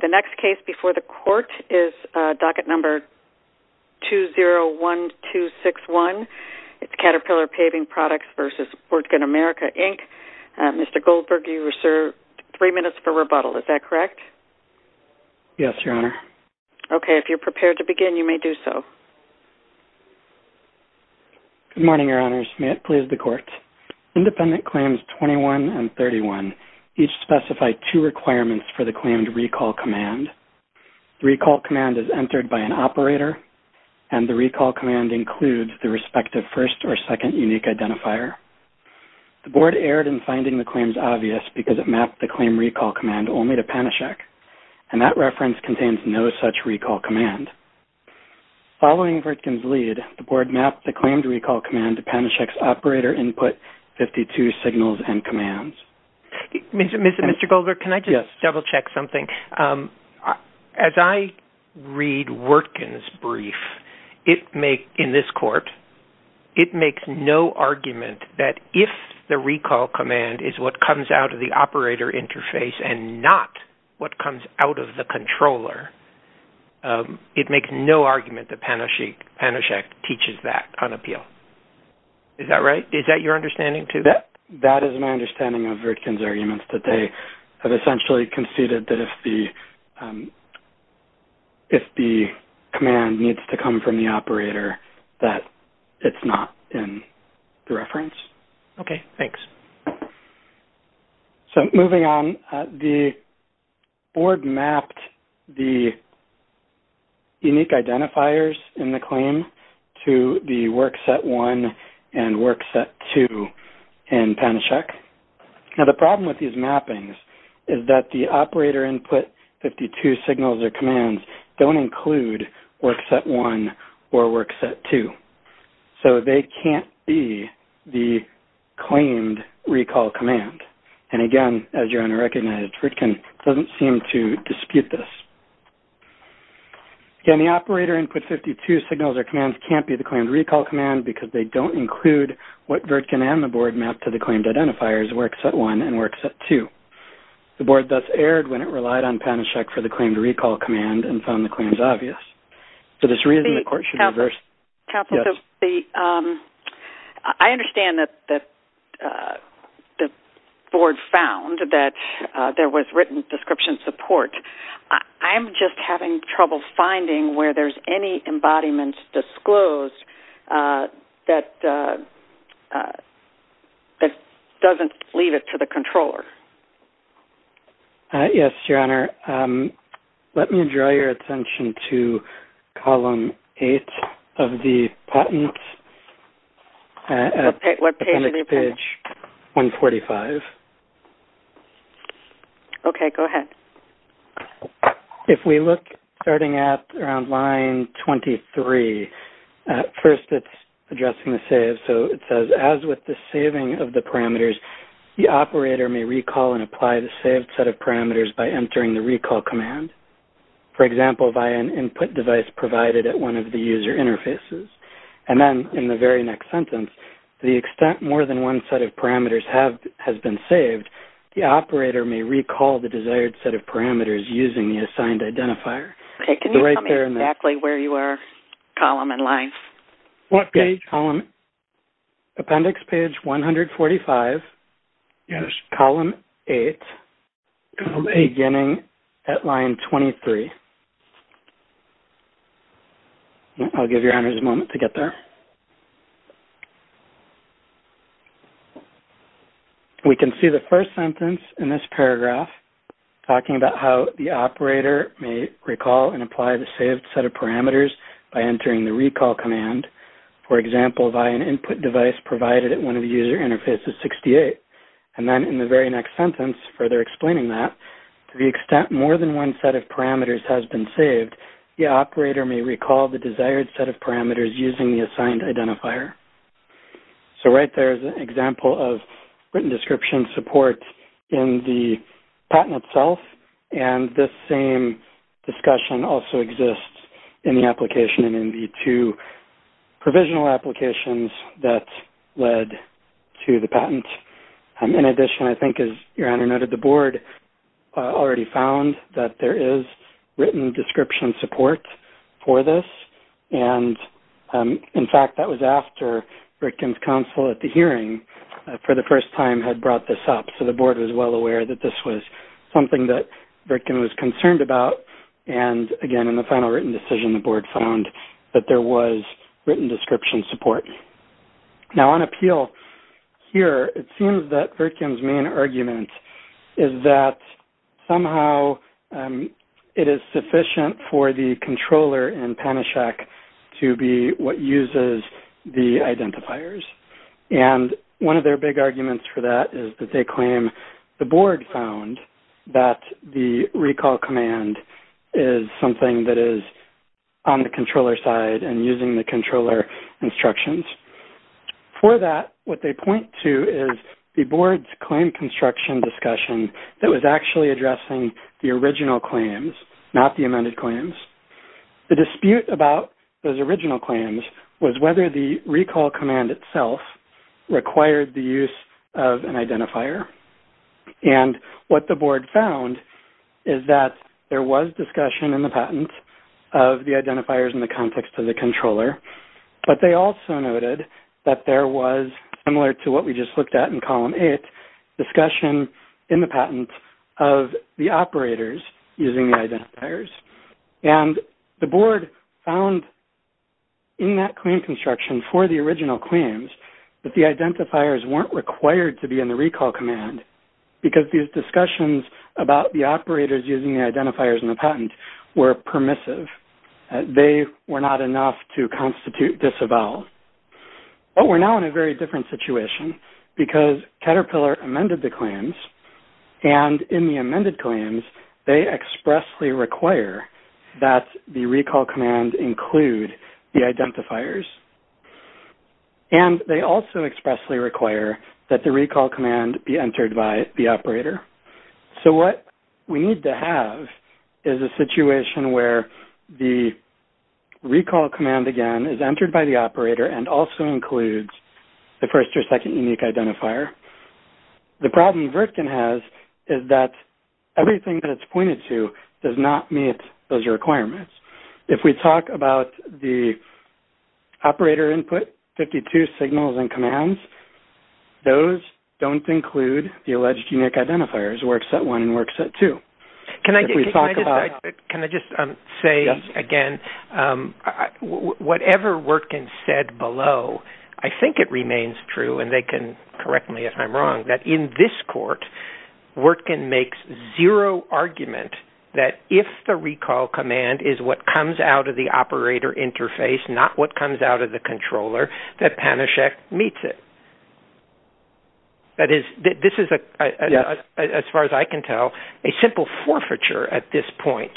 The next case before the court is docket number 201261. It's Caterpillar Paving Products v. Wirtgen America, Inc. Mr. Goldberg, you are served three minutes for rebuttal. Is that correct? Yes, Your Honor. Okay, if you're prepared to begin, you may do so. Good morning, Your Honors. May it please the court. Independent claims 21 and 31 each specify two requirements for the claimed recall command. The recall command is entered by an operator and the recall command includes the respective first or second unique identifier. The board erred in finding the claims obvious because it mapped the claim recall command only to Panacheck and that reference contains no such recall command. Following Wirtgen's lead, the board mapped the claimed recall command to Panacheck's operator input 52 signals and commands. Mr. Goldberg, as I read Wirtgen's brief in this court, it makes no argument that if the recall command is what comes out of the operator interface and not what comes out of the controller, it makes no argument that Panacheck teaches that on appeal. Is that right? Is that your understanding too? That is my understanding of Wirtgen's arguments that they have essentially conceded that if the command needs to come from the operator, that it's not in the reference. Okay, thanks. So, moving on, the board mapped the unique identifiers in the claim to the Work Set 1 and Work Set 2 in Panacheck. Now, the problem with these mappings is that the operator input 52 signals or commands don't include Work Set 1 or Work Set 2. So, they can't be the claimed recall command. And again, as you're going to recognize, Wirtgen doesn't seem to dispute this. Again, the operator input 52 signals or commands can't be the claimed recall command because they don't include what Wirtgen and the board mapped to the claimed identifiers Work Set 1 and Work Set 2. The board thus erred when it relied on Panacheck for the claimed recall command and found the claims obvious. For this reason, the court should reverse... Counselor, I understand that the board found that there was written description support. I'm just having trouble finding where there's any embodiments disclosed that doesn't leave it to the controller. Yes, Your Honor. Let me draw your attention to Column 8 of the patent. What page? Page 145. Okay, go ahead. If we look starting at around line 23, first it's addressing the save. So, it says, with the saving of the parameters, the operator may recall and apply the saved set of parameters by entering the recall command. For example, by an input device provided at one of the user interfaces. And then, in the very next sentence, the extent more than one set of parameters has been saved, the operator may recall the desired set of parameters using the assigned identifier. Okay, can you tell me exactly where you are, column and line? What page? Appendix page 145. Yes. Column 8, beginning at line 23. I'll give Your Honor a moment to get there. We can see the first sentence in this paragraph talking about how the operator may recall and apply the saved set of parameters by entering the recall command. For example, by an input device provided at one of the user interfaces 68. And then, in the very next sentence, further explaining that, to the extent more than one set of parameters has been saved, the operator may recall the desired set of parameters using the assigned identifier. So, right there is an example of written description support in the patent itself. And this same discussion also exists in the application and in the two provisional applications that led to the patent. In addition, I think, as Your Honor noted, the board already found that there is written description support for this. And, in fact, that was after Rickens Counsel at the hearing, for the first time, had brought this up. So, the board was well aware that this was something that Rickens was concerned about. And, again, in the final written decision, the board found that there was written description support. Now, on appeal, here, it seems that Rickens' main argument is that somehow it is sufficient for the controller in Panishak to be what uses the identifiers. And one of their big arguments for that is that they claim the board found that the recall command is something that is on the controller side and using the controller instructions. For that, what they point to is the board's claim construction discussion that was actually addressing the original claims, not the amended claims. The dispute about those original claims was whether the recall command itself required the use of an identifier. And what the board found is that there was discussion in the patent of the identifiers in the context of the controller. But they also noted that there was, similar to what we just looked at in column eight, discussion in the patent of the operators using the identifiers. And the board found in that claim construction for the original claims that the identifiers weren't required to be in the recall command because these discussions about the operators using the identifiers in the patent were permissive. They were not enough to constitute disavowal. But we're now in a very different situation because Caterpillar amended the claims. And in the amended claims, they expressly require that the recall command include the identifiers. And they also expressly require that the recall command be entered by the operator. So, what we need to have is a situation where the recall command, again, is entered by the operator and also includes the first or second unique identifier. The problem Vertkin has is that everything that it's pointed to does not meet those requirements. If we talk about the operator input, 52 signals and commands, those don't include the alleged unique identifiers, set one and set two. Can I just say again, whatever Vertkin said below, I think it remains true, and they can correct me if I'm wrong, that in this court, Vertkin makes zero argument that if the recall command is what comes out of the operator interface, not what comes out of the a simple forfeiture at this point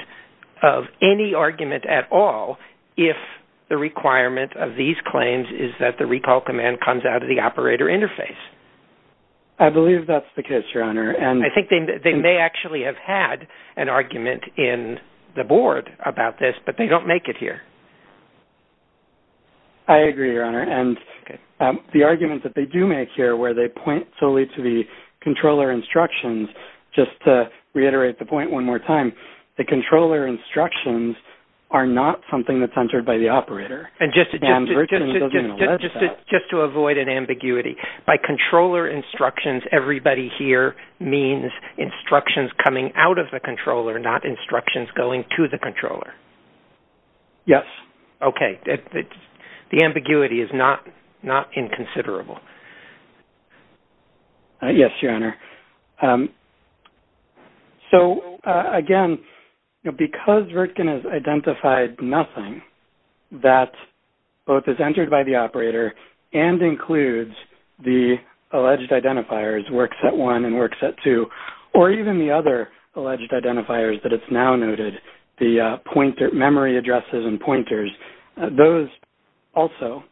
of any argument at all, if the requirement of these claims is that the recall command comes out of the operator interface. I believe that's the case, Your Honor. And I think they may actually have had an argument in the board about this, but they don't make it here. I agree, Your Honor. And the argument that they do make here where they point solely to the controller instructions, just to reiterate the point one more time, the controller instructions are not something that's entered by the operator. And Vertkin doesn't allege that. Just to avoid an ambiguity, by controller instructions, everybody here means instructions coming out of the controller, not instructions going to the controller? Yes. Okay. The ambiguity is not inconsiderable. Yes, Your Honor. So again, because Vertkin has identified nothing that both is entered by the operator and includes the alleged identifiers, works at one and works at two, or even the other alleged identifiers that it's now noted, the memory addresses and pointers, those also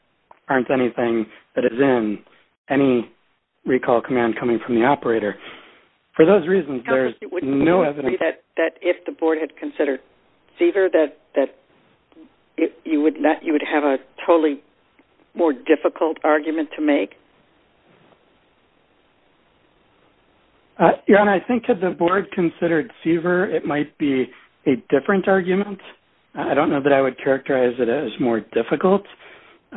aren't anything that is in any recall command coming from the operator. For those reasons, there's no evidence... Counselor, would you agree that if the board had considered SEVER that you would have a totally more difficult argument to make? Your Honor, I think if the board considered SEVER, it might be a different argument. I don't know that I would characterize it as more difficult.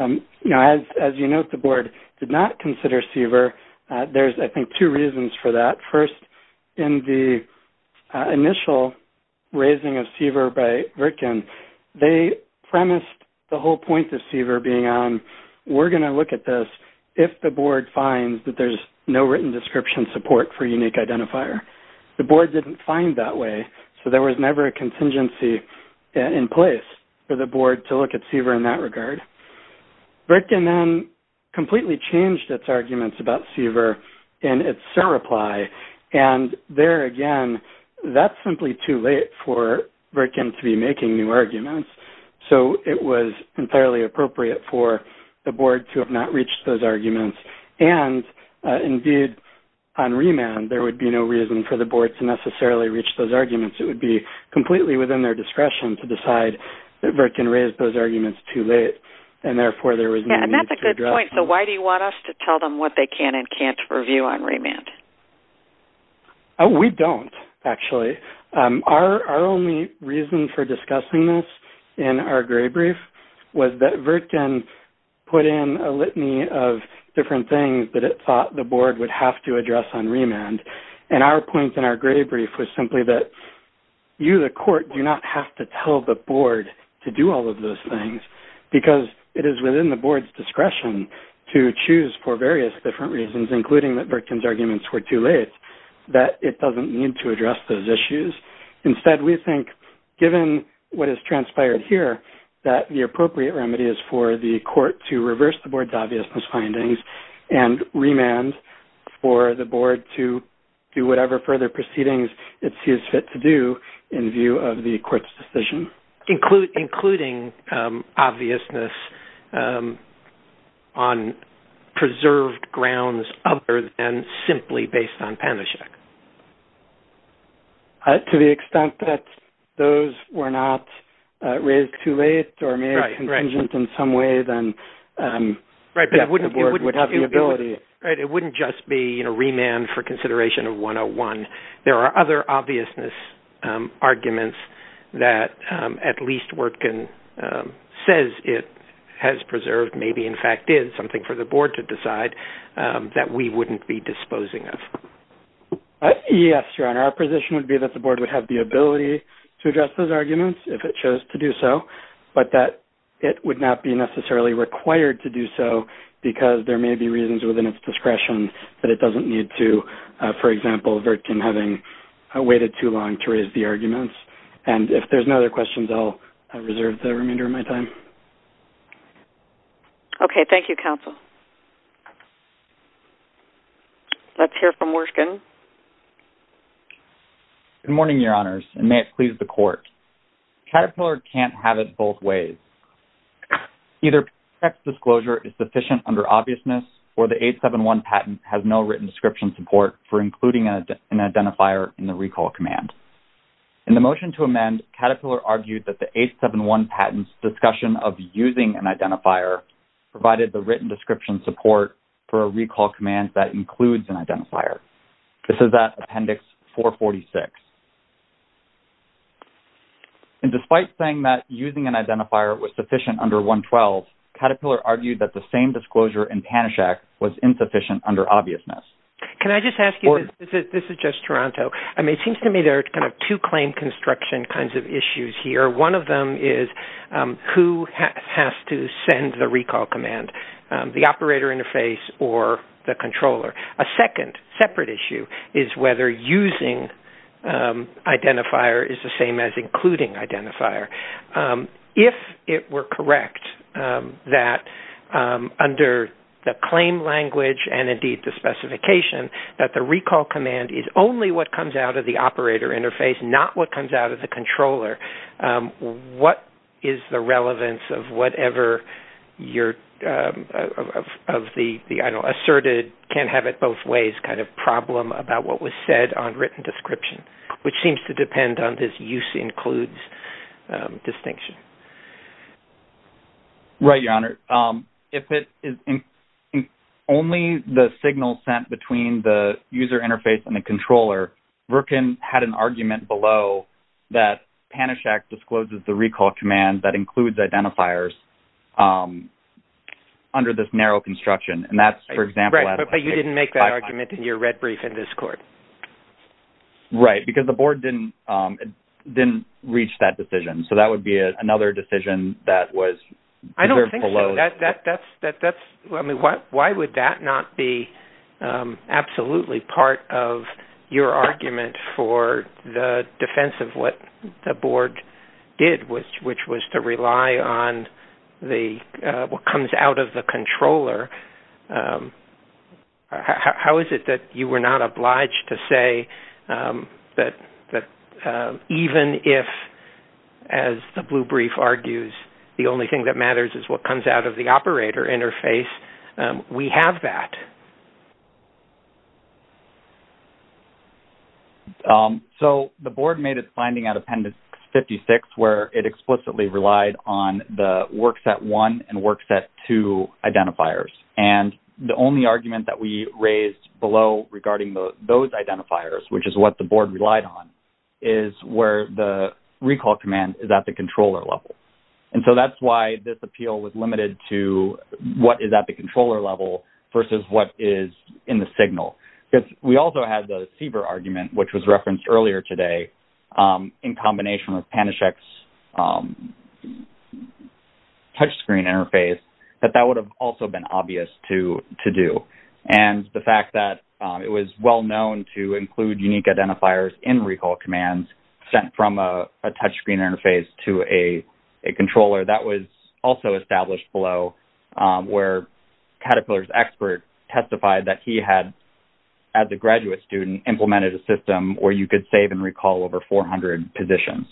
As you note, the board did not consider SEVER. There's, I think, two reasons for that. First, in the initial raising of SEVER by Vertkin, they premised the whole point of SEVER being on, we're going to look at this if the board finds that there's no written description support for unique identifier. The board didn't find that way, so there was never a contingency in place for the board to look at SEVER in that regard. Vertkin then completely changed its arguments about SEVER in its surreply, and there again, that's simply too late for Vertkin to be making new arguments, so it was entirely appropriate for the board to have not reached those arguments. And indeed, on remand, there would be no reason for the board to necessarily reach those arguments. It would be completely within their discretion to decide that Vertkin raised those arguments too late, and therefore, there was no need to address them. Yeah, and that's a good point. So, why do you want us to tell them what they can and can't review on remand? Oh, we don't, actually. Our only reason for discussing this in our gray brief was that Vertkin put in a litany of different things that it thought the board would have to address on remand. And our only point in our gray brief was simply that you, the court, do not have to tell the board to do all of those things, because it is within the board's discretion to choose for various different reasons, including that Vertkin's arguments were too late, that it doesn't need to address those issues. Instead, we think, given what has transpired here, that the appropriate remedy is for the court to reverse the board's obvious misfindings and remand for the board to do whatever further proceedings it sees fit to do in view of the court's decision. Including obviousness on preserved grounds other than simply based on Panacheck? To the extent that those were not raised too late or may have contingent in some way, then the board would have the ability. It wouldn't just be remand for consideration of 101. There are other obviousness arguments that at least Vertkin says it has preserved, maybe, in fact, is something for the board to decide that we wouldn't be disposing of. Yes, Your Honor. Our position would be that the board would have the ability to address those arguments if it chose to do so, but that it would not be necessarily required to do so because there may be reasons within its discretion that it doesn't need to, for example, Vertkin having waited too long to raise the arguments. And if there's no other questions, I'll reserve the remainder of my time. Okay. Thank you, counsel. Let's hear from Wershkin. Good morning, Your Honors, and may it please the court. Caterpillar can't have it both ways. Either Panacheck's disclosure is sufficient under obviousness or the 871 patent has no written description support for including an identifier in the recall command. In the motion to amend, Caterpillar argued that the 871 patent's discussion of using an identifier provided the written description support for a recall command that includes an identifier. This is at Appendix 446. And despite saying that using an identifier was sufficient under 112, Caterpillar argued that the same disclosure in Panacheck was insufficient under obviousness. Can I just ask you, this is just Toronto. I mean, it seems to me there are kind of two claim construction kinds of issues here. One of them is who has to send the recall command, the operator interface or the controller. A second separate issue is whether using identifier is the same as including identifier. If it were correct that under the claim language and indeed the specification that the recall command is only what comes out of the operator interface, not what comes out of the controller, what is the relevance of whatever you're-of the asserted can't have it both ways kind of problem about what was said on written description, which seems to depend on this use includes distinction. Right, Your Honor. If it is only the signal sent between the user interface and the controller, Virkin had an argument below that Panacheck discloses the recall command that includes identifiers under this narrow construction. And that's, for example- Right, because the board didn't reach that decision. So that would be another decision that was- I don't think so. Why would that not be absolutely part of your argument for the defense of what the board did, which was to rely on what comes out of the controller? How is it that you were not obliged to say that even if, as the blue brief argues, the only thing that matters is what comes out of the operator interface, we have that? So, the board made its finding out of Appendix 56, where it explicitly relied on the works at one and works at two identifiers. And the only argument that we raised below regarding those identifiers, which is what the board relied on, is where the recall command is at the controller level. And so that's why this appeal was limited to what is at the controller level versus what is in the signal. Because we also had the CBER argument, which was referenced earlier today, in combination with Panacheck's touchscreen interface, that that would have also been obvious to do. And the fact that it was well known to include unique identifiers in recall commands sent from a touchscreen interface to a controller, that was also established below, where Caterpillar's expert testified that he had, as a graduate student, implemented a system where you could save and recall over 400 positions.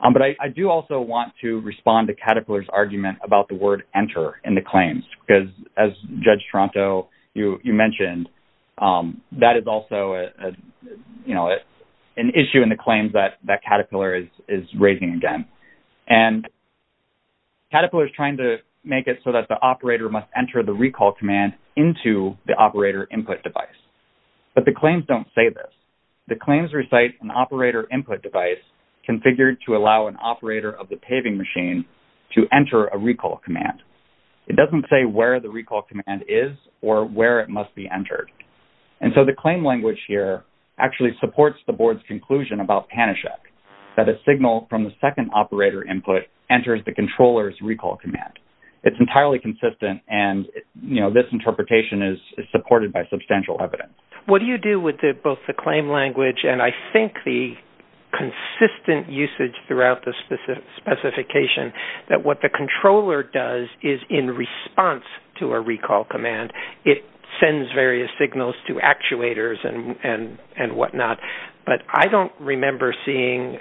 But I do also want to respond to Caterpillar's argument about the word enter in the claims, because as Judge Tronto, you mentioned, that is also an issue in the claims that Caterpillar is raising again. And Caterpillar is trying to make it so that the operator must enter the recall command into the operator input device. But the claims don't say this. The claims recite an operator input device configured to allow an operator of the paving machine to enter a recall command. It doesn't say where the recall command is or where it must be entered. And so the claim language here actually supports the board's conclusion about Panacheck, that a signal from the second operator input enters the controller's recall command. It's entirely consistent, and this interpretation is supported by substantial evidence. What do you do with both the claim language and, I think, the consistent usage throughout the specification that what the controller does is, in response to a recall command, it sends various signals to actuators and whatnot? But I don't remember seeing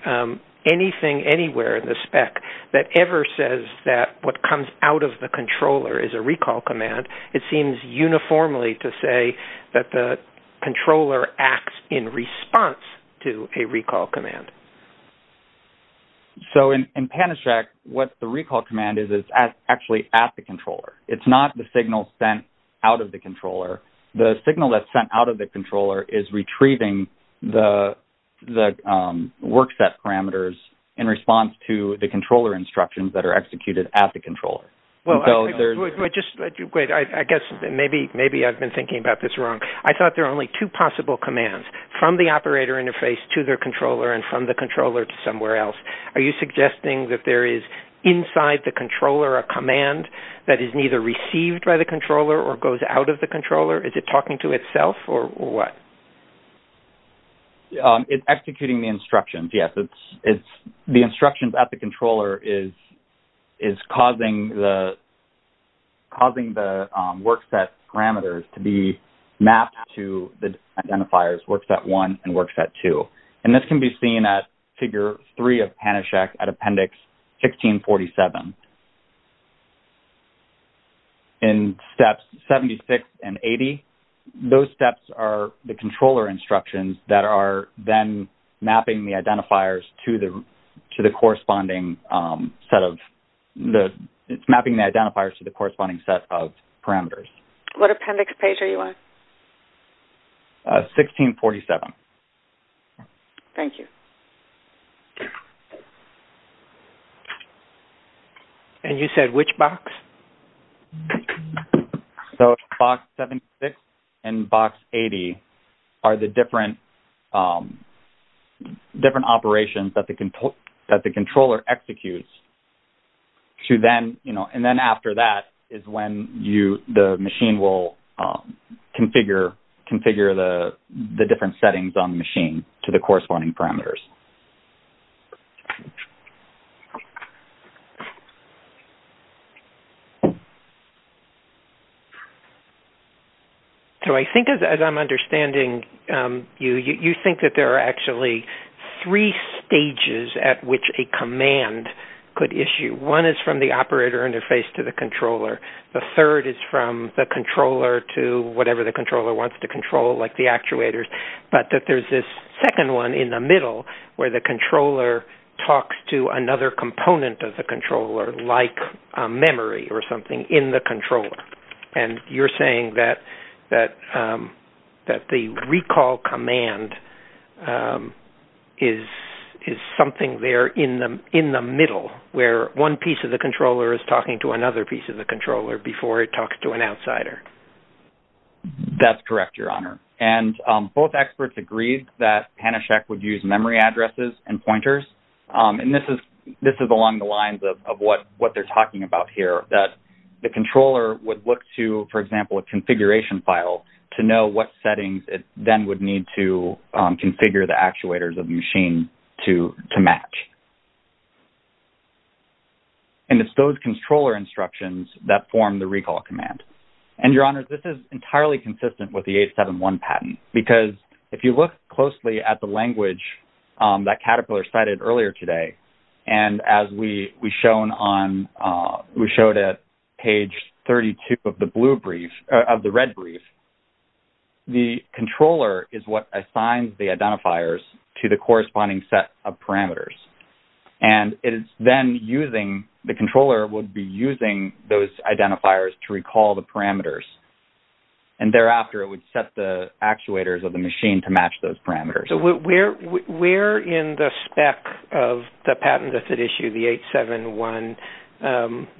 anything anywhere in the spec that ever says that what comes out of the controller is a recall command. It seems uniformly to say that the controller acts in response to a recall command. So, in Panacheck, what the recall command is, is actually at the controller. It's not the signal sent out of the controller. The signal that's sent out of the controller is retrieving the workset parameters in response to the controller instructions that are executed at the controller. Well, I guess maybe I've been thinking about this wrong. I thought there are only two possible commands, from the operator interface to their controller and from the controller to somewhere else. Are you suggesting that there is, inside the controller, a command that is neither received by the controller or goes out of the controller? Is it talking to itself or what? It's executing the instructions, yes. The instructions at the controller is causing the workset parameters to be mapped to the identifiers workset 1 and workset 2. And this can be seen at figure 3 of Panacheck at appendix 1647. In steps 76 and 80, those steps are the controller instructions that are then mapping the identifiers to the corresponding set of parameters. What appendix page are you on? 1647. Thank you. And you said which box? So, box 76 and box 80 are the different operations that the controller executes. And then after that is when the machine will configure the different settings on the machine to the corresponding parameters. So, I think, as I'm understanding you, you think that there are actually three stages at which a command could issue. One is from the operator interface to the controller. The third is from the controller to whatever the controller wants to control, like the actuators. But there's this second one in the middle where the controller talks to another component of the controller, like memory or something, in the controller. And you're saying that the recall command is something there in the middle where one piece of the controller is talking to another piece of the controller before it talks to an outsider. That's correct, Your Honor. And both experts agreed that Panacheck would use memory addresses and pointers. And this is along the lines of what they're talking about here, that the controller would look to, for example, a configuration file to know what settings it then would need to configure the actuators of the machine to match. And it's those controller instructions that form the recall command. And, Your Honor, this is entirely consistent with the 871 patent. Because if you look closely at the language that Caterpillar cited earlier today, and as we showed at page 32 of the red brief, the controller is what assigns the identifiers to the corresponding set of parameters. And the controller would be using those identifiers to recall the parameters. And thereafter, it would set the actuators of the machine to match those parameters. Where in the spec of the patent that issued the 871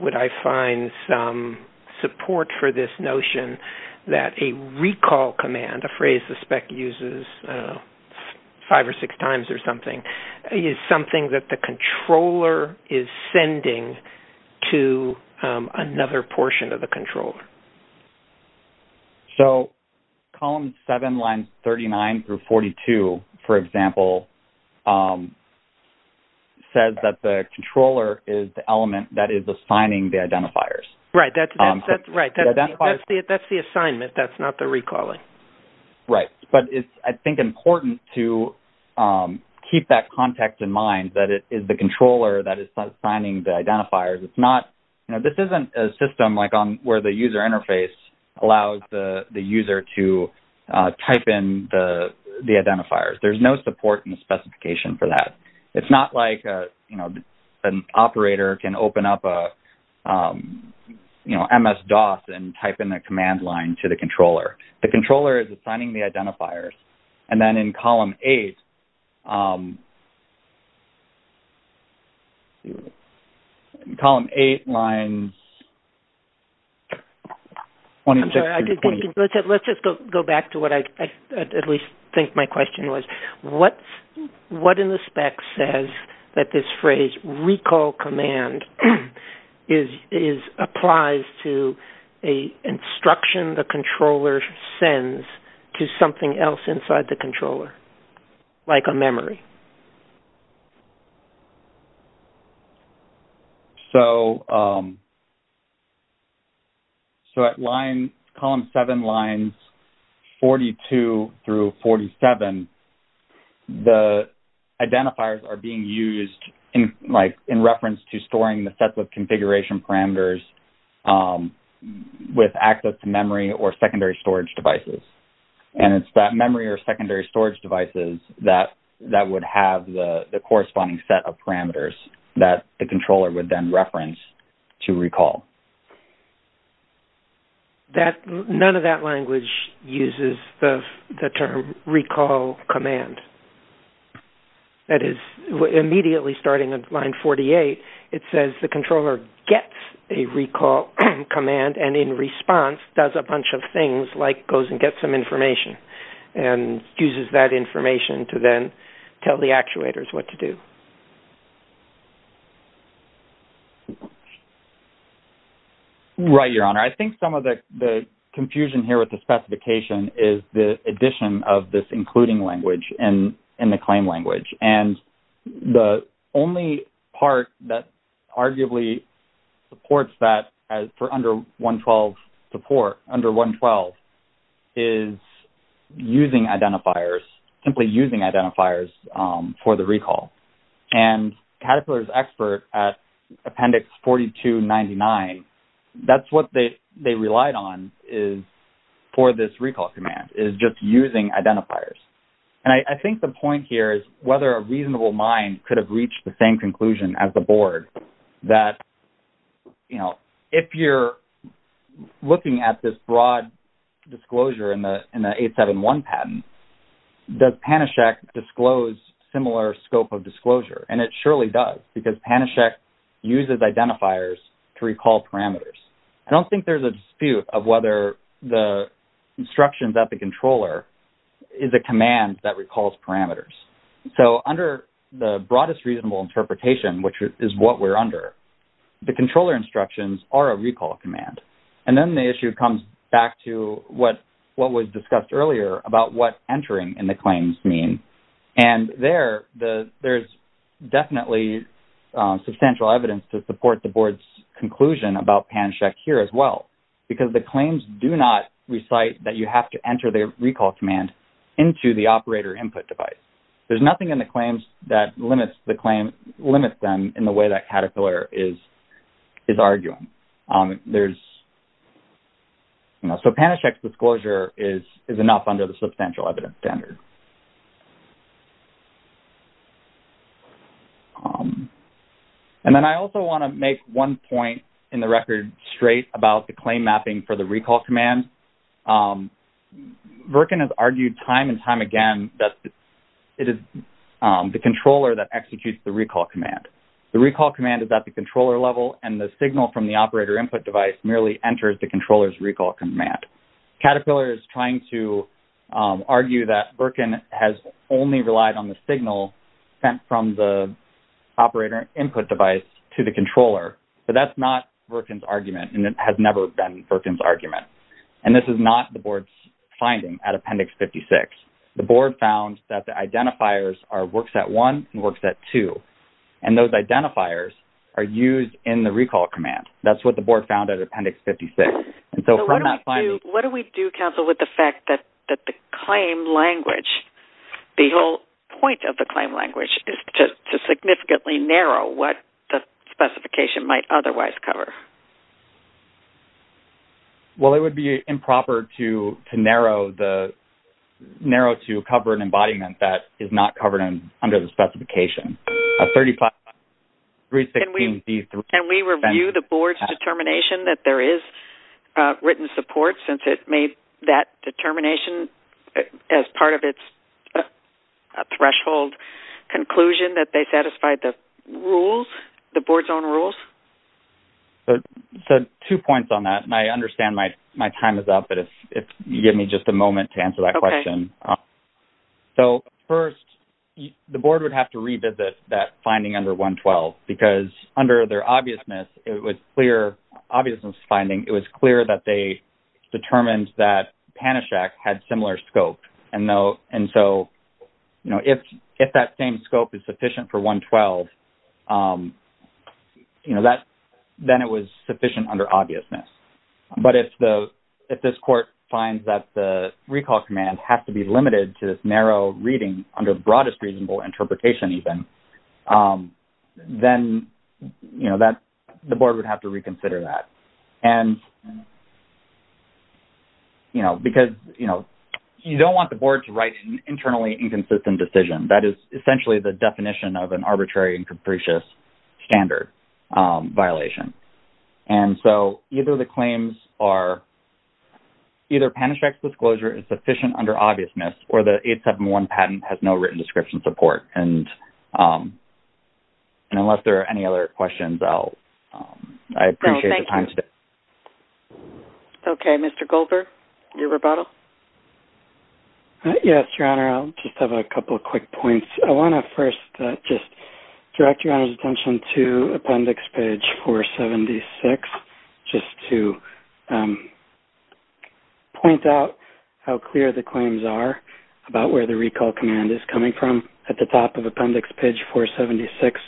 would I find some support for this notion that a recall command, a phrase the spec uses five or six times or something, is something that the controller is sending to another portion of the controller? So, column seven, lines 39 through 42, for example, says that the controller is the element that is assigning the identifiers. Right. That's the assignment. That's not the recalling. Right. But it's, I think, important to keep that context in mind, that it is the controller that is assigning the identifiers. It's not, you know, this isn't a system like on where the user interface allows the user to type in the identifiers. There's no support in the specification for that. It's not like, you know, an operator can open up a, you know, MS-DOS and type in the command line to the controller. The controller is assigning the identifiers. And then in column eight, column eight, lines 26 through 28. Let's just go back to what I at least think my question was. What in the spec says that this is inside the controller, like on memory? So, at line, column seven, lines 42 through 47, the identifiers are being used in, like, in reference to storing the sets of configuration parameters with access to memory or secondary storage devices that would have the corresponding set of parameters that the controller would then reference to recall. None of that language uses the term recall command. That is, immediately starting at line 48, it says the controller gets a recall command and in response does a bunch of things like goes and gets some information and uses that information to then tell the actuators what to do. Right, Your Honor. I think some of the confusion here with the specification is the addition of this including language in the claim language. And the only part that arguably supports that for under 112 support, under 112, is using identifiers, simply using identifiers for the recall. And Caterpillar's expert at appendix 4299, that's what they relied on is for this recall command, is just using identifiers. And I think the point here is whether a reasonable mind could reach the same conclusion as the board that, you know, if you're looking at this broad disclosure in the 871 patent, does Panacek disclose similar scope of disclosure? And it surely does because Panacek uses identifiers to recall parameters. I don't think there's a dispute of whether the instructions at the controller is a command that recalls parameters. So, under the broadest reasonable interpretation, which is what we're under, the controller instructions are a recall command. And then the issue comes back to what was discussed earlier about what entering in the claims mean. And there, there's definitely substantial evidence to support the board's conclusion about Panacek here as well, because the claims do not recite that you have to enter the recall command into the operator input device. There's nothing in the claims that limits them in the way that Caterpillar is arguing. There's, you know, so Panacek's disclosure is enough under the substantial evidence standard. And then I also want to make one point in the record straight about the claim mapping for the recall command. The recall command is at the controller level, and the signal from the operator input device merely enters the controller's recall command. Caterpillar is trying to argue that Virkin has only relied on the signal sent from the operator input device to the controller. But that's not Virkin's argument, and it has never been Virkin's argument. And this is not the board's finding at Appendix 56. The board found that the identifiers are Worksat 1 and Worksat 2, and those identifiers are used in the recall command. That's what the board found at Appendix 56. And so from that finding... So what do we do, Council, with the fact that the claim language, the whole point of the claim language is to significantly narrow what the specification might otherwise cover? Well, it would be improper to narrow to cover an embodiment that is not under the specification. Can we review the board's determination that there is written support since it made that determination as part of its threshold conclusion that they satisfied the rules, the board's own rules? So two points on that, and I understand my time is up, but if you give me just a moment to answer that question. So first, the board would have to revisit that finding under 112, because under their obviousness, it was clear, obviousness finding, it was clear that they determined that Panachak had similar scope. And so if that same scope is sufficient for 112, then it was sufficient under obviousness. But if this court finds that the recall command has to be limited to this narrow reading under the broadest reasonable interpretation even, then the board would have to reconsider that. Because you don't want the board to write an internally inconsistent decision, that is essentially the definition of an arbitrary and capricious standard violation. And so either the claims are either Panachak's disclosure is sufficient under obviousness, or the 871 patent has no written description support. And unless there are any other questions, I appreciate the time today. Okay. Mr. Goldberg, your rebuttal. Yes, Your Honor. I'll just have a couple of quick points. I want to first just direct Your Honor's attention to appendix page 476, just to point out how clear the claims are about where the recall command is coming from. At the top of appendix page 476,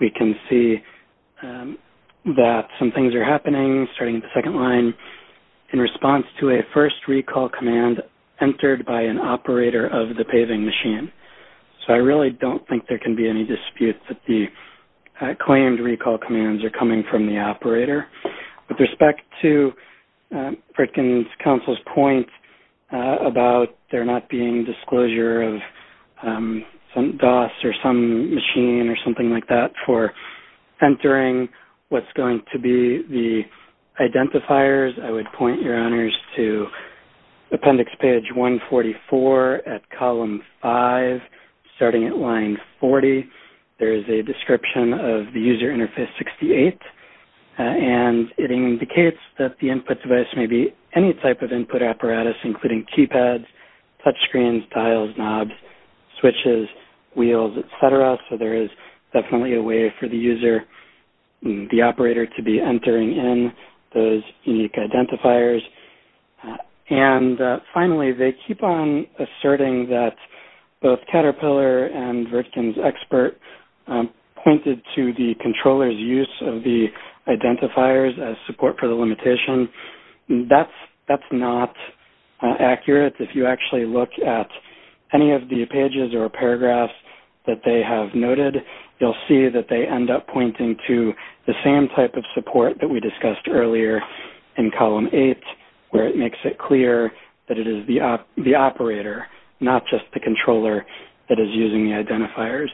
we can see that some things are happening, starting at the second line, in response to a first recall command entered by an operator of the paving machine. So I really don't think there can be any dispute that the claimed recall commands are coming from the operator. With respect to Fritkin's counsel's point about there not being disclosure of some DOS or some machine or something like that for entering what's going to be the identifiers, I would point Your Honor to column 5, starting at line 40. There is a description of the user interface 68, and it indicates that the input device may be any type of input apparatus, including keypads, touchscreens, dials, knobs, switches, wheels, etc. So there is definitely a way for the user, the operator to be entering in those unique identifiers. And finally, they keep on asserting that both Caterpillar and Fritkin's expert pointed to the controller's use of the identifiers as support for the limitation. That's not accurate. If you actually look at any of the pages or paragraphs that they have noted, you'll see that they end up pointing to the same type of support that we discussed earlier in column 8, where it makes it clear that it is the operator, not just the controller, that is using the identifiers.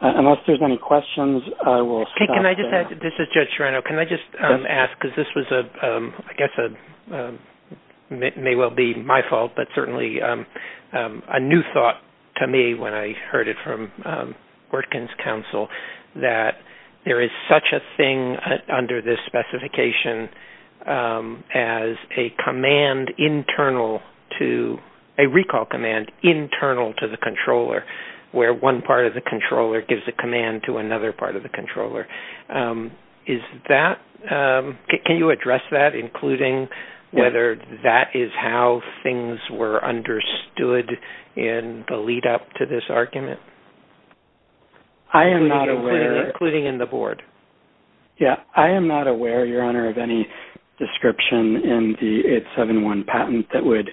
Unless there's any questions, I will stop there. This is Judge Serrano. Can I just ask, because this was, I guess, may well be my fault, but certainly a new thought to me when I heard it from Fritkin's counsel, that there is such a thing under this specification as a command internal to, a recall command internal to the controller, where one part of the controller gives a command to another part of the controller. Is that, can you address that, including whether that is how things were understood in the lead up to this argument? I am not aware. Including in the board? Yeah, I am not aware, Your Honor, of any description in the 871 patent that would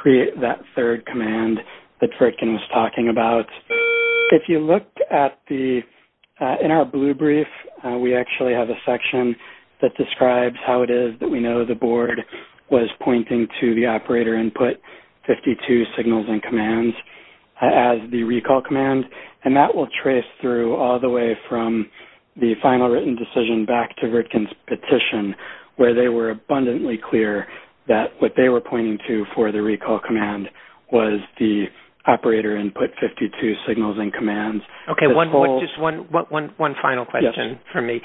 create that third command that Fritkin was talking about. If you look at the, in our blue brief, we actually have a section that describes how it is that we know the board was pointing to the operator input 52 signals and commands as the recall command, and that will trace through all the way from the final written decision back to Fritkin's petition, where they were abundantly clear that what they were pointing to for the recall command was the operator input 52 signals and commands. Okay, one final question for me.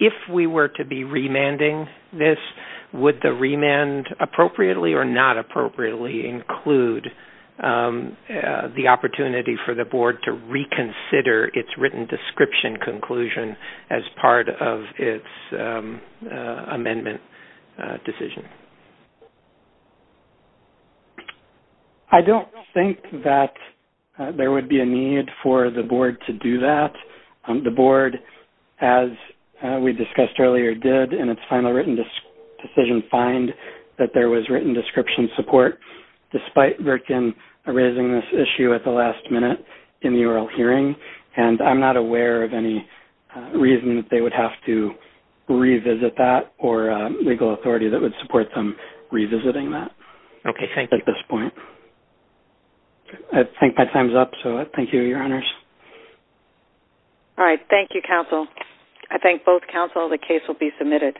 If we were to be remanding this, would the remand appropriately or not appropriately include the opportunity for the board to reconsider its written description conclusion as part of its amendment decision? I do not think that there would be a need for the board to do that. The board, as we discussed earlier, did in its final written decision find that there was written description support, despite Fritkin raising this issue at the last minute in the oral hearing, and I am not aware of any reason that they would have to revisit that or a legal authority that would support them revisiting that at this point. Okay, thank you. I think my time is up, so thank you, Your Honors. All right, thank you, counsel. I thank both counsel. The case will be submitted.